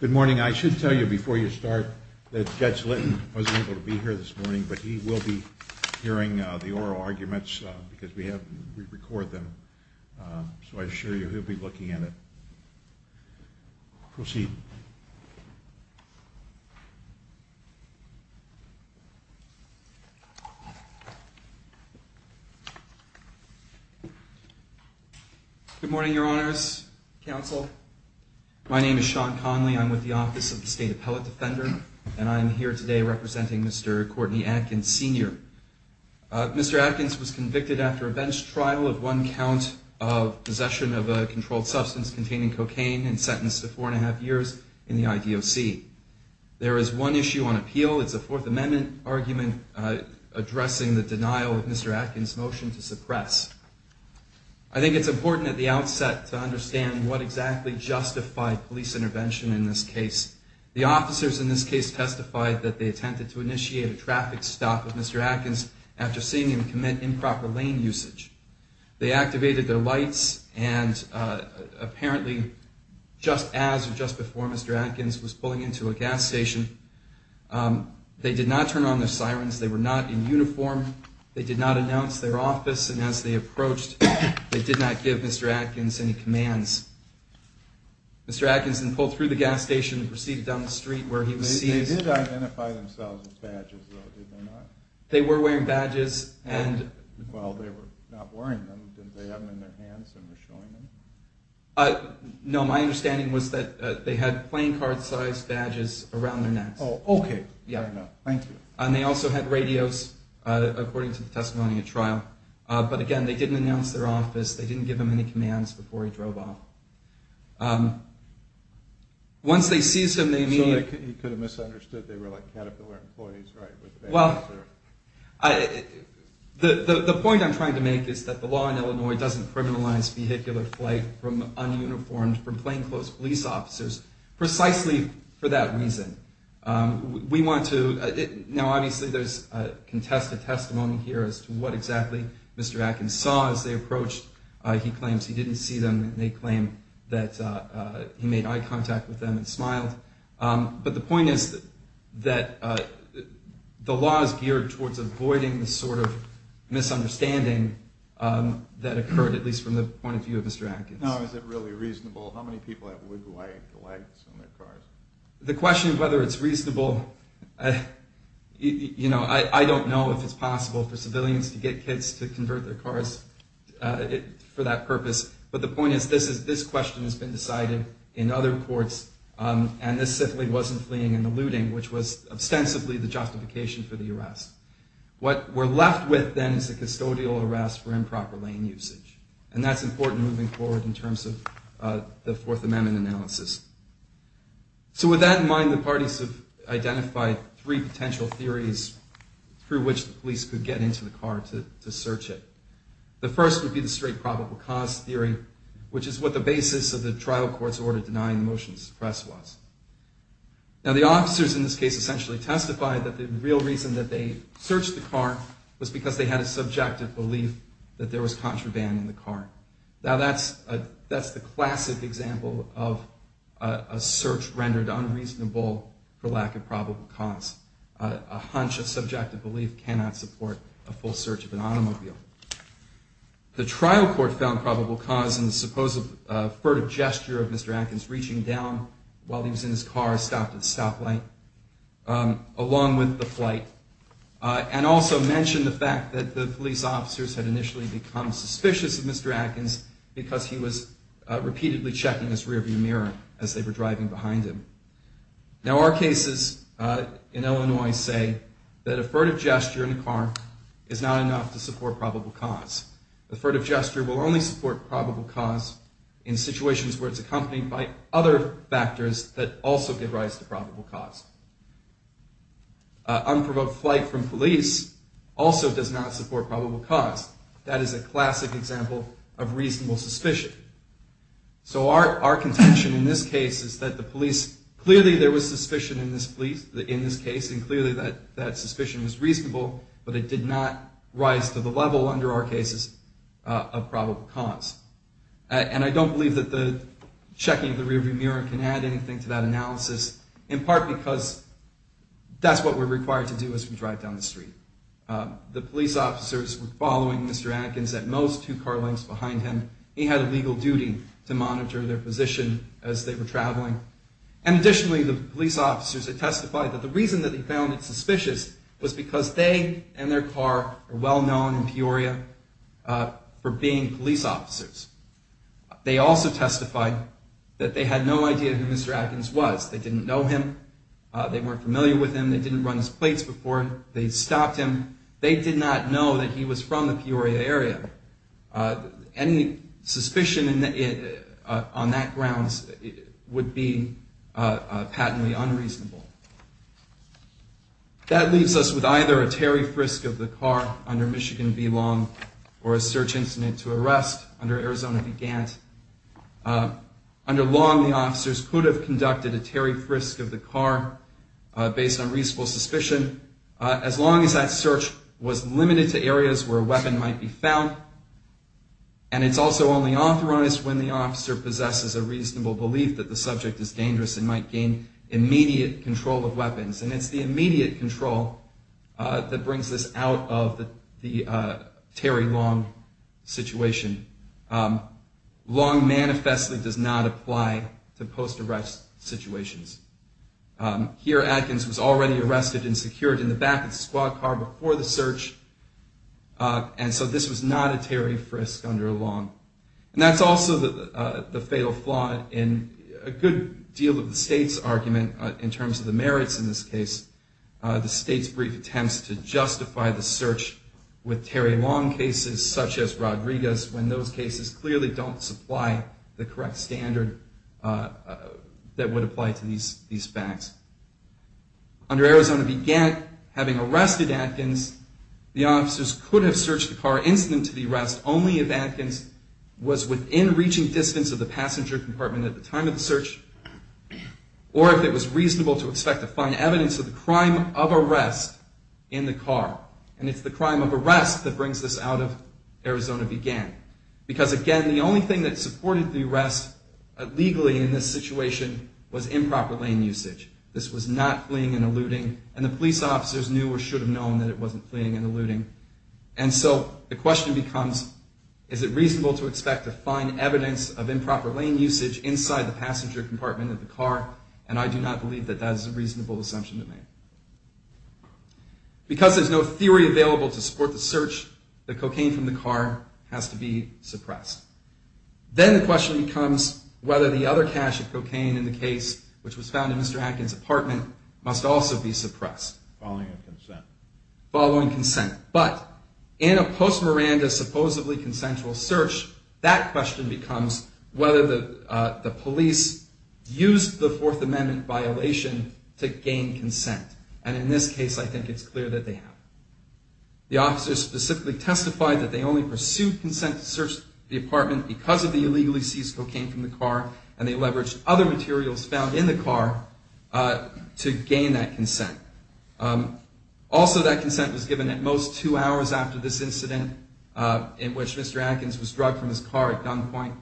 Good morning. I should tell you before you start that Judge Litton wasn't able to be here this morning, but he will be hearing the oral arguments because we record them, so I assure you he'll be looking at it. Proceed. Good morning, Your Honors, Counsel. My name is Sean Conley. I'm with the Office of the State Appellate Defender, and I'm here today representing Mr. Courtney Atkins, Sr. Mr. Atkins was convicted after a bench trial of one count of possession of a controlled substance containing cocaine and sentenced to four and a half years in the IDOC. There is one issue on appeal. It's a Fourth Amendment argument addressing the denial of Mr. Atkins' motion to suppress. I think it's important at the outset to understand what exactly justified police intervention in this case. The officers in this case testified that they attempted to initiate a traffic stop of Mr. Atkins after seeing him commit improper lane usage. They activated their lights, and apparently just as or just before Mr. Atkins was pulling into a gas station, they did not turn on their sirens, they were not in uniform, they did not announce their office, and as they approached, they did not give Mr. Atkins any commands. Mr. Atkins then pulled through the gas station and proceeded down the street where he was seized. They did identify themselves with badges, though, did they not? They were wearing badges. Well, they were not wearing them. Did they have them in their hands and were showing them? No, my understanding was that they had playing card-sized badges around their necks. Oh, okay. Thank you. And they also had radios, according to the testimony at trial. But again, they didn't announce their office, they didn't give him any commands before he drove off. So he could have misunderstood, they were like Caterpillar employees, right? Well, the point I'm trying to make is that the law in Illinois doesn't criminalize vehicular flight from un-uniformed, from plainclothes police officers, precisely for that reason. Now, obviously, there's contested testimony here as to what exactly Mr. Atkins saw as they approached. He claims he didn't see them, and they claim that he made eye contact with them and smiled. But the point is that the law is geared towards avoiding the sort of misunderstanding that occurred, at least from the point of view of Mr. Atkins. Now, is it really reasonable? How many people have wood-wired lights on their cars? The question of whether it's reasonable, you know, I don't know if it's possible for civilians to get kids to convert their cars for that purpose. But the point is, this question has been decided in other courts, and this simply wasn't fleeing and eluding, which was ostensibly the justification for the arrest. What we're left with, then, is a custodial arrest for improper lane usage. And that's important moving forward in terms of the Fourth Amendment analysis. So with that in mind, the parties have identified three potential theories through which the police could get into the car to search it. The first would be the straight probable cause theory, which is what the basis of the trial court's order denying the motion to suppress was. Now, the officers in this case essentially testified that the real reason that they searched the car was because they had a subjective belief that there was contraband in the car. Now, that's the classic example of a search rendered unreasonable for lack of probable cause. A hunch of subjective belief cannot support a full search of an automobile. The trial court found probable cause in the supposed furtive gesture of Mr. Atkins reaching down while he was in his car, stopped at a stoplight, along with the flight. And also mentioned the fact that the police officers had initially become suspicious of Mr. Atkins because he was repeatedly checking his rearview mirror as they were driving behind him. Now, our cases in Illinois say that a furtive gesture in a car is not enough to support probable cause. A furtive gesture will only support probable cause in situations where it's accompanied by other factors that also give rise to probable cause. Unprovoked flight from police also does not support probable cause. That is a classic example of reasonable suspicion. So our contention in this case is that the police, clearly there was suspicion in this case, and clearly that suspicion was reasonable, but it did not rise to the level under our cases of probable cause. And I don't believe that the checking of the rearview mirror can add anything to that analysis, in part because that's what we're required to do as we drive down the street. The police officers were following Mr. Atkins at most, two car lengths behind him. He had a legal duty to monitor their position as they were traveling. And additionally, the police officers had testified that the reason that they found it suspicious was because they and their car were well known in Peoria for being police officers. They also testified that they had no idea who Mr. Atkins was. They didn't know him. They weren't familiar with him. They didn't run his plates before. They stopped him. They did not know that he was from the Peoria area. Any suspicion on that grounds would be patently unreasonable. That leaves us with either a tarry frisk of the car under Michigan v. Long or a search incident to arrest under Arizona v. Gant. Under Long, the officers could have conducted a tarry frisk of the car based on reasonable suspicion, as long as that search was limited to areas where a weapon might be found. And it's also only authorized when the officer possesses a reasonable belief that the subject is dangerous and might gain immediate control of weapons. And it's the immediate control that brings us out of the tarry Long situation. Long manifestly does not apply to post-arrest situations. Here, Atkins was already arrested and secured in the back of the squad car before the search, and so this was not a tarry frisk under Long. And that's also the fatal flaw in a good deal of the state's argument in terms of the merits in this case. The state's brief attempts to justify the search with tarry Long cases, such as Rodriguez, when those cases clearly don't supply the correct standard that would apply to these facts. Under Arizona v. Gant, having arrested Atkins, the officers could have searched the car incident to the arrest only if Atkins was within reaching distance of the passenger compartment at the time of the search, or if it was reasonable to expect to find evidence of the crime of arrest in the car. And it's the crime of arrest that brings us out of Arizona v. Gant. Because, again, the only thing that supported the arrest legally in this situation was improper lane usage. This was not fleeing and eluding, and the police officers knew or should have known that it wasn't fleeing and eluding. And so the question becomes, is it reasonable to expect to find evidence of improper lane usage inside the passenger compartment of the car? And I do not believe that that is a reasonable assumption to make. Because there's no theory available to support the search, the cocaine from the car has to be suppressed. Then the question becomes whether the other cache of cocaine in the case, which was found in Mr. Atkins' apartment, must also be suppressed. Following a consent. Following consent. But in a post-Miranda supposedly consensual search, that question becomes whether the police used the Fourth Amendment violation to gain consent. And in this case, I think it's clear that they have. The officers specifically testified that they only pursued consent to search the apartment because of the illegally seized cocaine from the car, and they leveraged other materials found in the car to gain that consent. Also, that consent was given at most two hours after this incident, in which Mr. Atkins was drugged from his car at gunpoint,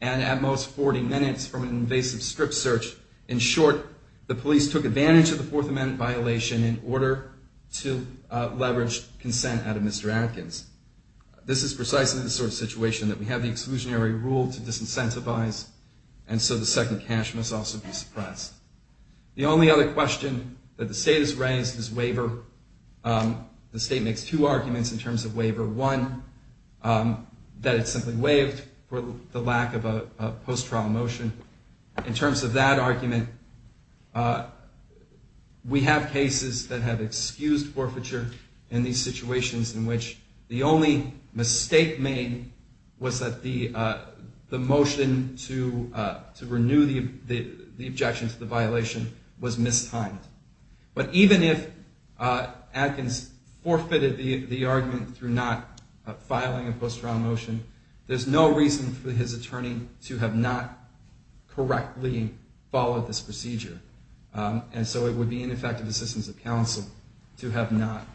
and at most 40 minutes from an invasive strip search. In short, the police took advantage of the Fourth Amendment violation in order to leverage consent out of Mr. Atkins. This is precisely the sort of situation that we have the exclusionary rule to disincentivize, and so the second cache must also be suppressed. The only other question that the state has raised is waiver. The state makes two arguments in terms of waiver. One, that it simply waived for the lack of a post-trial motion. In terms of that argument, we have cases that have excused forfeiture in these situations in which the only mistake made was that the motion to renew the objection to the violation was mistimed. But even if Atkins forfeited the argument through not filing a post-trial motion, there's no reason for his attorney to have not correctly followed this procedure. And so it would be ineffective assistance of counsel to have not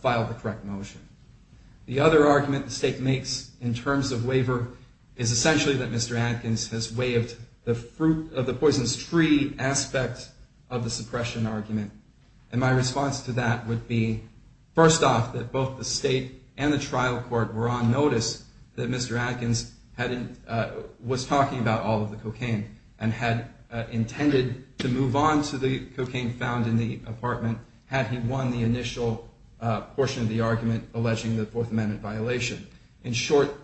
filed the correct motion. The other argument the state makes in terms of waiver is essentially that Mr. Atkins has waived the fruit of the Poisonous Tree aspect of the suppression argument. And my response to that would be, first off, that both the state and the trial court were on notice that Mr. Atkins was talking about all of the cocaine, and had intended to move on to the cocaine found in the apartment had he won the initial portion of the argument alleging the Fourth Amendment violation. In short,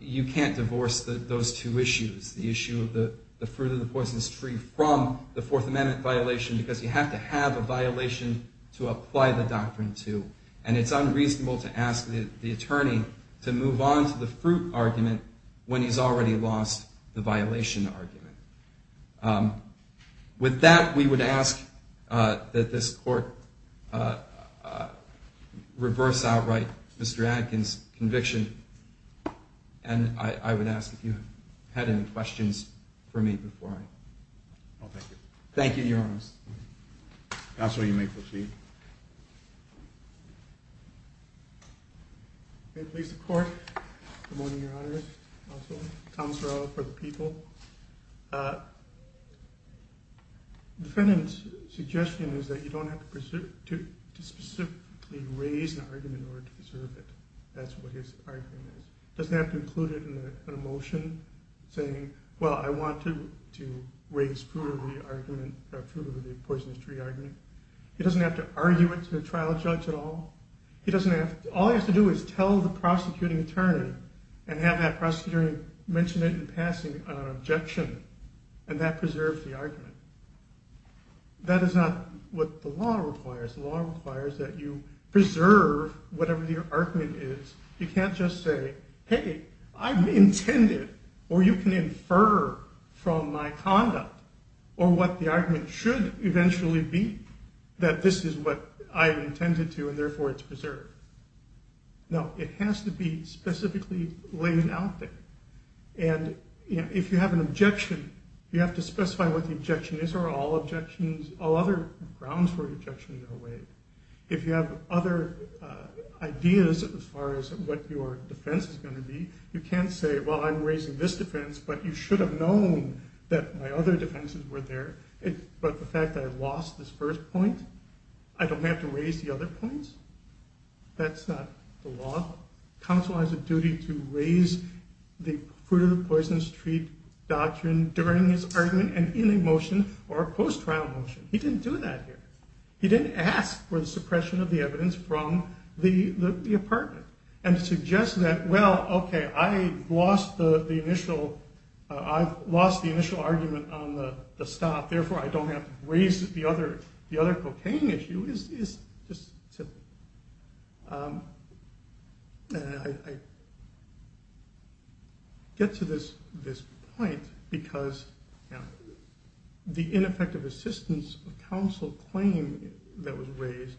you can't divorce those two issues, the issue of the fruit of the Poisonous Tree from the Fourth Amendment violation, because you have to have a violation to apply the doctrine to. And it's unreasonable to ask the attorney to move on to the fruit argument when he's already lost the violation argument. With that, we would ask that this court reverse outright Mr. Atkins' conviction, and I would ask if you had any questions for me before I... Thank you, Your Honor. Counsel, you may proceed. May it please the court. Good morning, Your Honor. Also, Tom Sorrell for the people. The defendant's suggestion is that you don't have to specifically raise an argument in order to preserve it. That's what his argument is. He doesn't have to include it in a motion saying, well, I want to raise fruit of the argument, fruit of the Poisonous Tree argument. He doesn't have to argue it to a trial judge at all. All he has to do is tell the prosecuting attorney and have that prosecuting attorney mention it in passing on an objection. And that preserves the argument. That is not what the law requires. The law requires that you preserve whatever the argument is. You can't just say, hey, I've intended, or you can infer from my conduct, or what the argument should eventually be, that this is what I've intended to, and therefore it's preserved. No, it has to be specifically laid out there. And if you have an objection, you have to specify what the objection is. These are all objections, all other grounds for objections are away. If you have other ideas as far as what your defense is going to be, you can't say, well, I'm raising this defense, but you should have known that my other defenses were there. But the fact that I lost this first point, I don't have to raise the other points? That's not the law. Counsel has a duty to raise the fruit-of-the-poisonous-treat doctrine during his argument and in a motion or a post-trial motion. He didn't do that here. He didn't ask for the suppression of the evidence from the apartment and suggest that, well, okay, I've lost the initial argument on the stop, therefore I don't have to raise the other cocaine issue. It's just simple. I get to this point because the ineffective assistance of counsel claim that was raised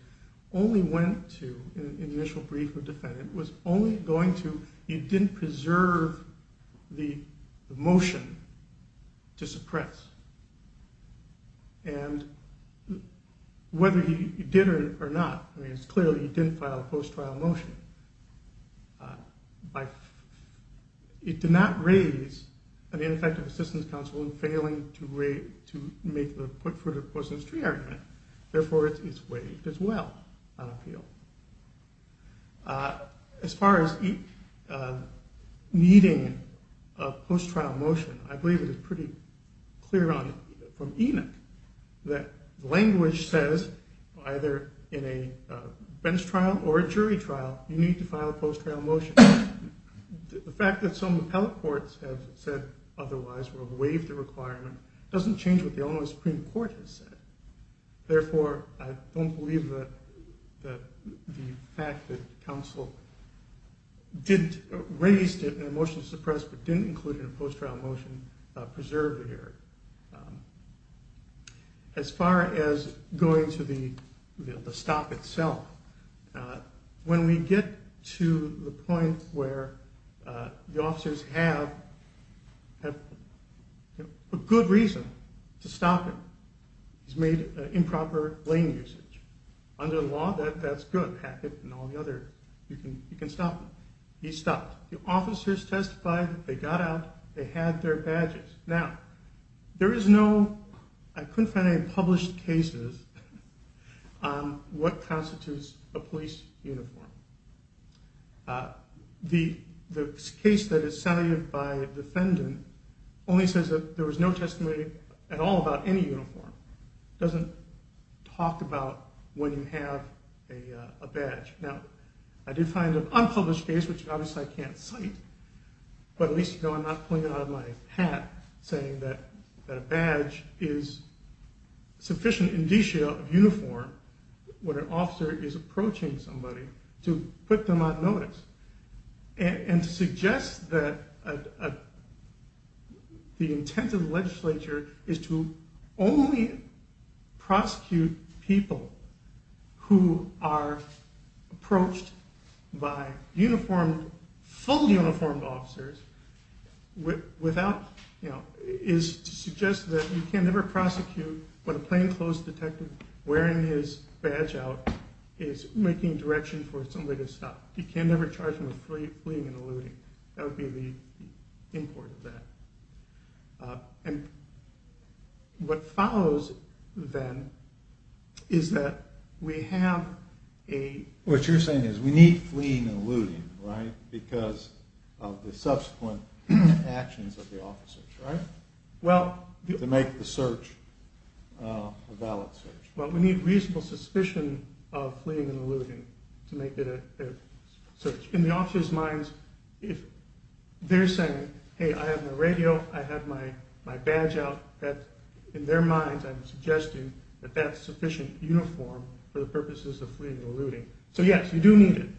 only went to an initial brief of defense. It was only going to, he didn't preserve the motion to suppress. And whether he did or not, it's clear that he didn't file a post-trial motion. It did not raise an ineffective assistance counsel in failing to make the fruit-of-the-poisonous-treat argument, therefore it's waived as well on appeal. As far as needing a post-trial motion, I believe it's pretty clear from Enoch that language says either in a bench trial or a jury trial, you need to file a post-trial motion. The fact that some appellate courts have said otherwise or waived the requirement doesn't change what the Illinois Supreme Court has said. Therefore, I don't believe that the fact that counsel raised it in a motion to suppress but didn't include it in a post-trial motion preserved the error. As far as going to the stop itself, when we get to the point where the officers have a good reason to stop him, he's made improper blame usage. Under the law, that's good. You can stop him. He stopped. The officers testified, they got out, they had their badges. Now, there is no, I couldn't find any published cases on what constitutes a police uniform. The case that is saluted by the defendant only says that there was no testimony at all about any uniform. It doesn't talk about when you have a badge. Now, I did find an unpublished case, which obviously I can't cite, but at least you know I'm not pulling it out of my hat, saying that a badge is sufficient indicia of uniform when an officer is approaching somebody to put them on notice. And to suggest that the intent of the legislature is to only prosecute people who are approached by fully uniformed officers is to suggest that you can never prosecute when a plainclothes detective wearing his badge out is making direction for somebody to stop. That would be the import of that. And what follows then is that we have a... What you're saying is we need fleeing and alluding, right? Because of the subsequent actions of the officers, right? To make the search a valid search. Well, we need reasonable suspicion of fleeing and alluding to make it a search. In the officers' minds, if they're saying, hey, I have my radio, I have my badge out, in their minds I'm suggesting that that's sufficient uniform for the purposes of fleeing and alluding. So yes, you do need it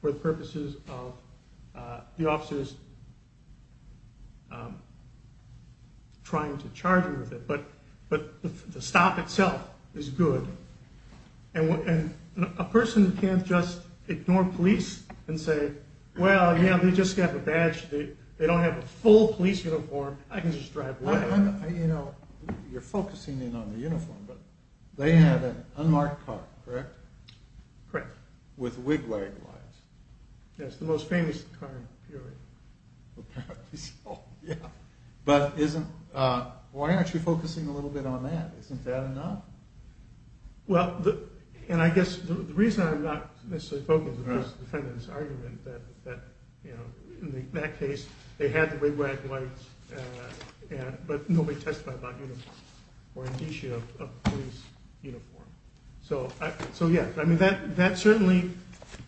for the purposes of the officers trying to charge you with it. But the stop itself is good. And a person can't just ignore police and say, well, yeah, they just have a badge, they don't have a full police uniform, I can just drive away. You know, you're focusing in on the uniform, but they have an unmarked car, correct? Correct. With wig-wag lines. Yes, the most famous car in the period. But isn't, why aren't you focusing a little bit on that? Isn't that enough? Well, and I guess the reason I'm not necessarily focused on this argument is that in that case, they had the wig-wag lines, but nobody testified about uniform or an issue of police uniform. So yes, that certainly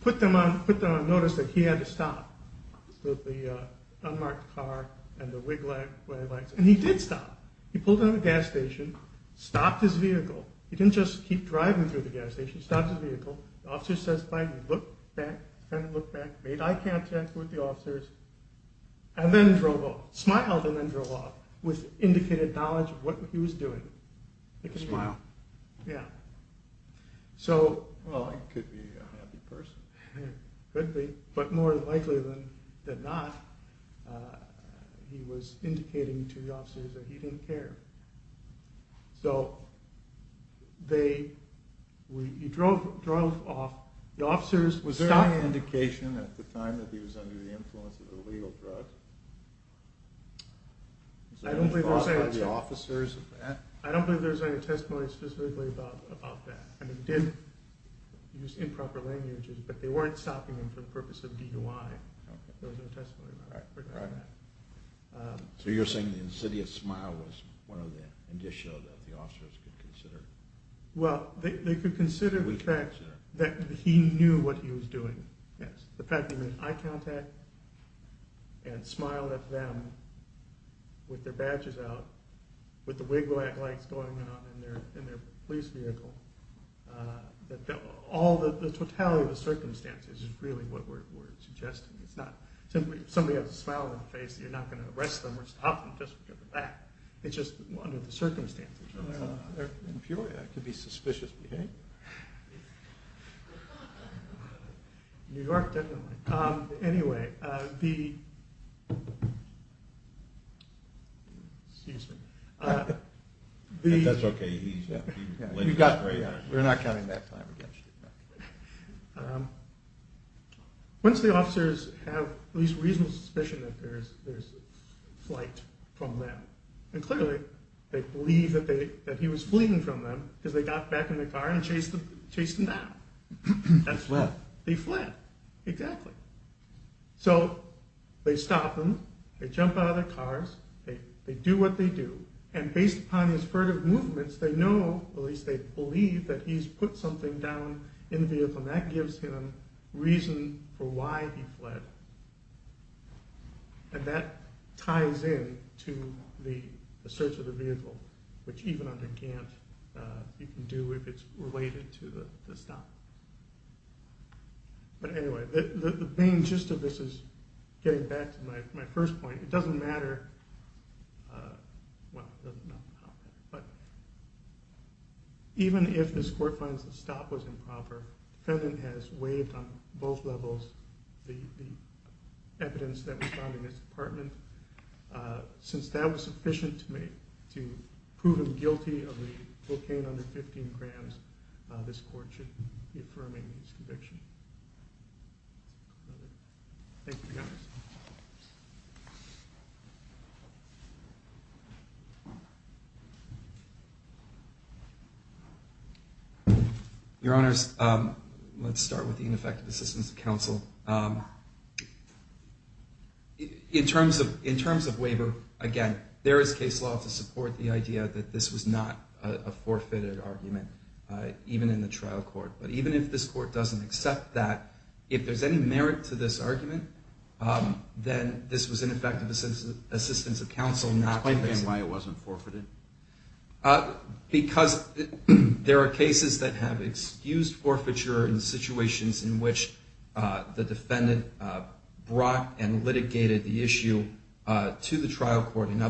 put them on notice that he had to stop with the unmarked car and the wig-wag lines. And he did stop. He pulled into the gas station, stopped his vehicle. He didn't just keep driving through the gas station, he stopped his vehicle. The officer says, fine, he looked back, made eye contact with the officers, and then drove off. Smiled and then drove off with indicated knowledge of what he was doing. Smiled. Yeah. Well, he could be a happy person. Could be, but more likely than not, he was indicating to the officers that he didn't care. So, they, he drove off, the officers stopped him. Was there any indication at the time that he was under the influence of illegal drugs? Was there any thought by the officers of that? I don't think there was any testimony specifically about that. They did use improper languages, but they weren't stopping him for the purpose of DUI. There was no testimony about that. So you're saying the insidious smile was one of the indicia that the officers could consider? Well, they could consider the fact that he knew what he was doing. The fact that he made eye contact and smiled at them with their badges out, with the wig lights going on in their police vehicle. All the totality of the circumstances is really what we're suggesting. It's not simply, if somebody has a smile on their face, you're not going to arrest them or stop them just because of that. It's just under the circumstances. In Peoria, that could be suspicious behavior. New York, definitely. Anyway, the... Once the officers have at least reasonable suspicion that there's flight from them, and clearly they believe that he was fleeing from them because they got back in the car and chased him down. They fled. Exactly. So, they stop them. They jump out of their cars. They do what they do. And based upon his furtive movements, they know, at least they believe, that he's put something down in the vehicle. And that gives him reason for why he fled. And that ties in to the search of the vehicle, which even under Gant, you can do if it's related to the stop. But anyway, the main gist of this is, getting back to my first point, it doesn't matter... Even if this court finds the stop was improper, the defendant has waived on both levels the evidence that was found in this apartment. Since that was sufficient to prove him guilty of the cocaine under 15 grams, this court should be affirming his conviction. Thank you, guys. Your Honors, let's start with the ineffective assistance of counsel. In terms of waiver, again, there is case law to support the idea that this was not a forfeited argument, even in the trial court. But even if this court doesn't accept that, if there's any merit to this argument, then this was ineffective assistance of counsel. Explain again why it wasn't forfeited. Because there are cases that have excused forfeiture in situations in which the defendant brought and litigated the issue to the trial court. In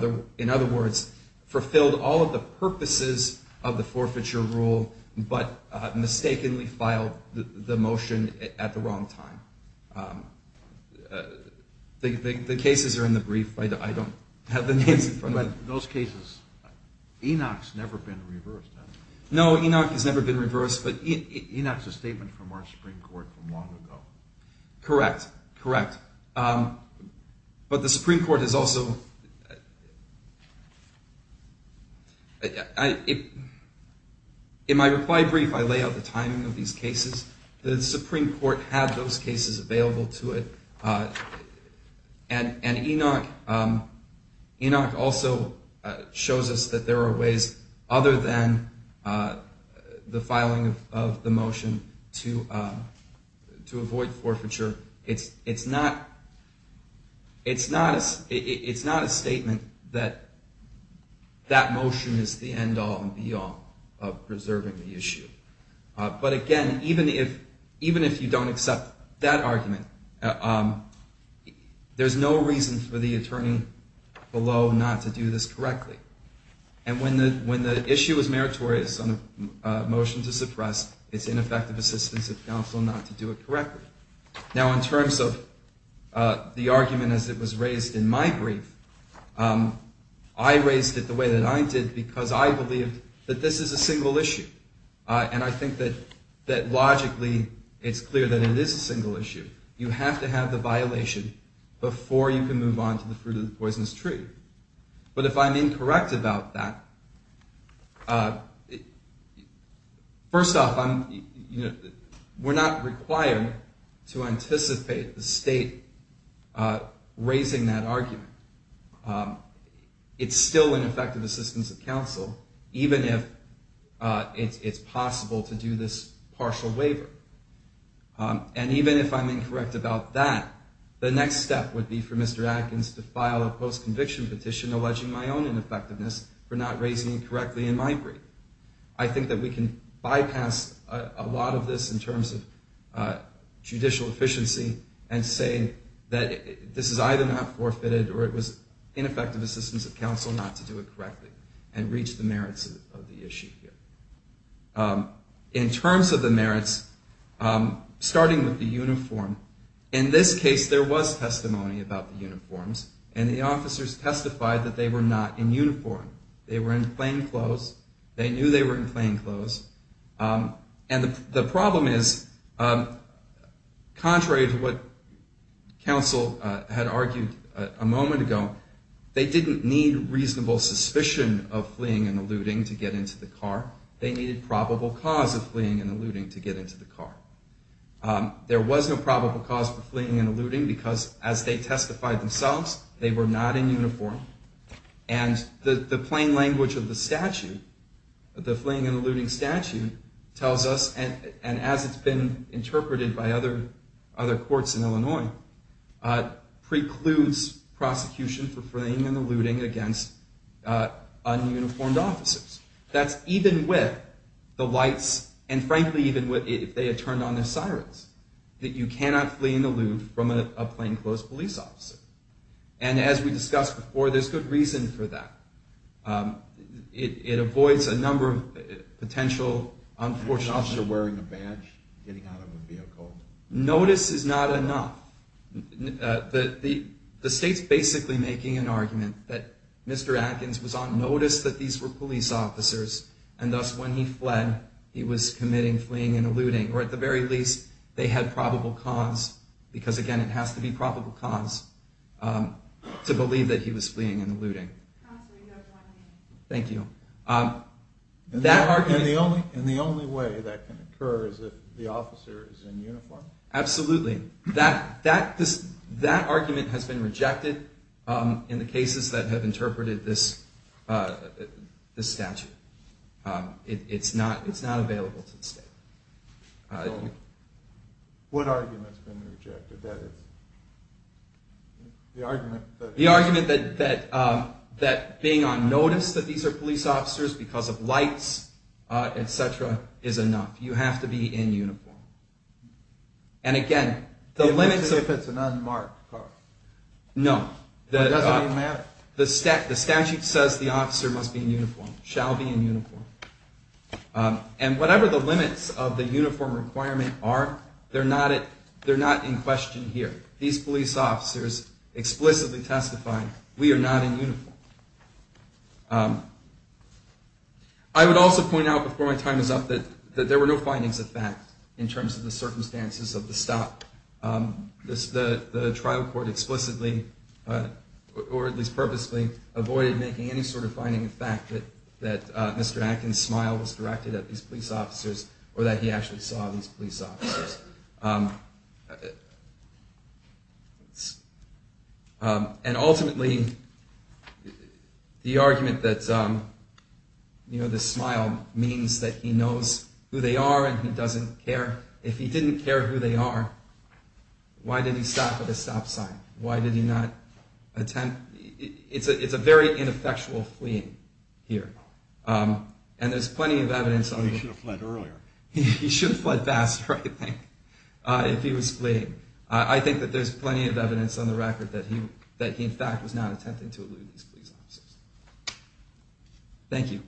other words, fulfilled all of the purposes of the forfeiture rule, but mistakenly filed the motion at the wrong time. The cases are in the brief. I don't have the names in front of me. But in those cases, Enoch's never been reversed, has he? No, Enoch has never been reversed. But Enoch's a statement from our Supreme Court from long ago. Correct. Correct. But the Supreme Court has also... In my reply brief, I lay out the timing of these cases. The Supreme Court had those cases available to it. And Enoch also shows us that there are ways other than the filing of the motion to avoid forfeiture. It's not a statement that that motion is the end all and be all of preserving the issue. But again, even if you don't accept that argument, there's no reason for the attorney below not to do this correctly. And when the issue is meritorious on a motion to suppress, it's ineffective assistance of counsel not to do it correctly. Now, in terms of the argument as it was raised in my brief, I raised it the way that I did because I believed that this is a single issue. And I think that logically it's clear that it is a single issue. You have to have the violation before you can move on to the fruit of the poisonous tree. But if I'm incorrect about that, first off, we're not required to anticipate the state raising that argument. It's still an effective assistance of counsel, even if it's possible to do this partial waiver. And even if I'm incorrect about that, the next step would be for Mr. Adkins to file a post-conviction petition alleging my own ineffectiveness for not raising it correctly in my brief. I think that we can bypass a lot of this in terms of judicial efficiency and say that this is either not forfeited or it was ineffective assistance of counsel not to do it correctly and reach the merits of the issue here. In terms of the merits, starting with the uniform, in this case there was testimony about the uniforms, and the officers testified that they were not in uniform. They were in plain clothes. They knew they were in plain clothes. And the problem is, contrary to what counsel had argued a moment ago, they didn't need reasonable suspicion of fleeing and eluding to get into the car. They needed probable cause of fleeing and eluding to get into the car. There was no probable cause for fleeing and eluding because as they testified themselves, they were not in uniform. And the plain language of the statute, the fleeing and eluding statute, tells us, and as it's been interpreted by other courts in Illinois, precludes prosecution for fleeing and eluding against un-uniformed officers. That's even with the lights, and frankly even if they had turned on the sirens, that you cannot flee and elude from a plain clothes police officer. And as we discussed before, there's good reason for that. It avoids a number of potential unfortunate... Officer wearing a badge, getting out of a vehicle. Notice is not enough. The state's basically making an argument that Mr. Atkins was on notice that these were police officers, and thus when he fled, he was committing fleeing and eluding. Or at the very least, they had probable cause, because again, it has to be probable cause to believe that he was fleeing and eluding. Thank you. And the only way that can occur is if the officer is in uniform? Absolutely. That argument has been rejected in the cases that have interpreted this statute. It's not available to the state. So, what argument has been rejected? The argument that being on notice that these are police officers because of lights, etc., is enough. You have to be in uniform. And again, the limits of... If it's an unmarked car. No. It doesn't even matter. The statute says the officer must be in uniform, shall be in uniform. And whatever the limits of the uniform requirement are, they're not in question here. These police officers explicitly testify, we are not in uniform. I would also point out before my time is up that there were no findings of fact in terms of the circumstances of the stop. The trial court explicitly, or at least purposely, avoided making any sort of finding of fact that Mr. Atkins' smile was directed at these police officers, or that he actually saw these police officers. And ultimately, the argument that the smile means that he knows who they are and he doesn't care. If he didn't care who they are, why did he stop at a stop sign? Why did he not attempt... It's a very ineffectual fleeing here. And there's plenty of evidence... He should have fled earlier. He should have fled faster, I think, if he was fleeing. I think that there's plenty of evidence on the record that he, in fact, was not attempting to elude these police officers. Thank you.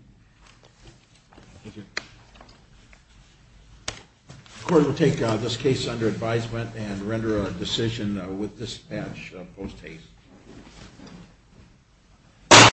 Thank you. The court will take this case under advisement and render a decision with dispatch post haste.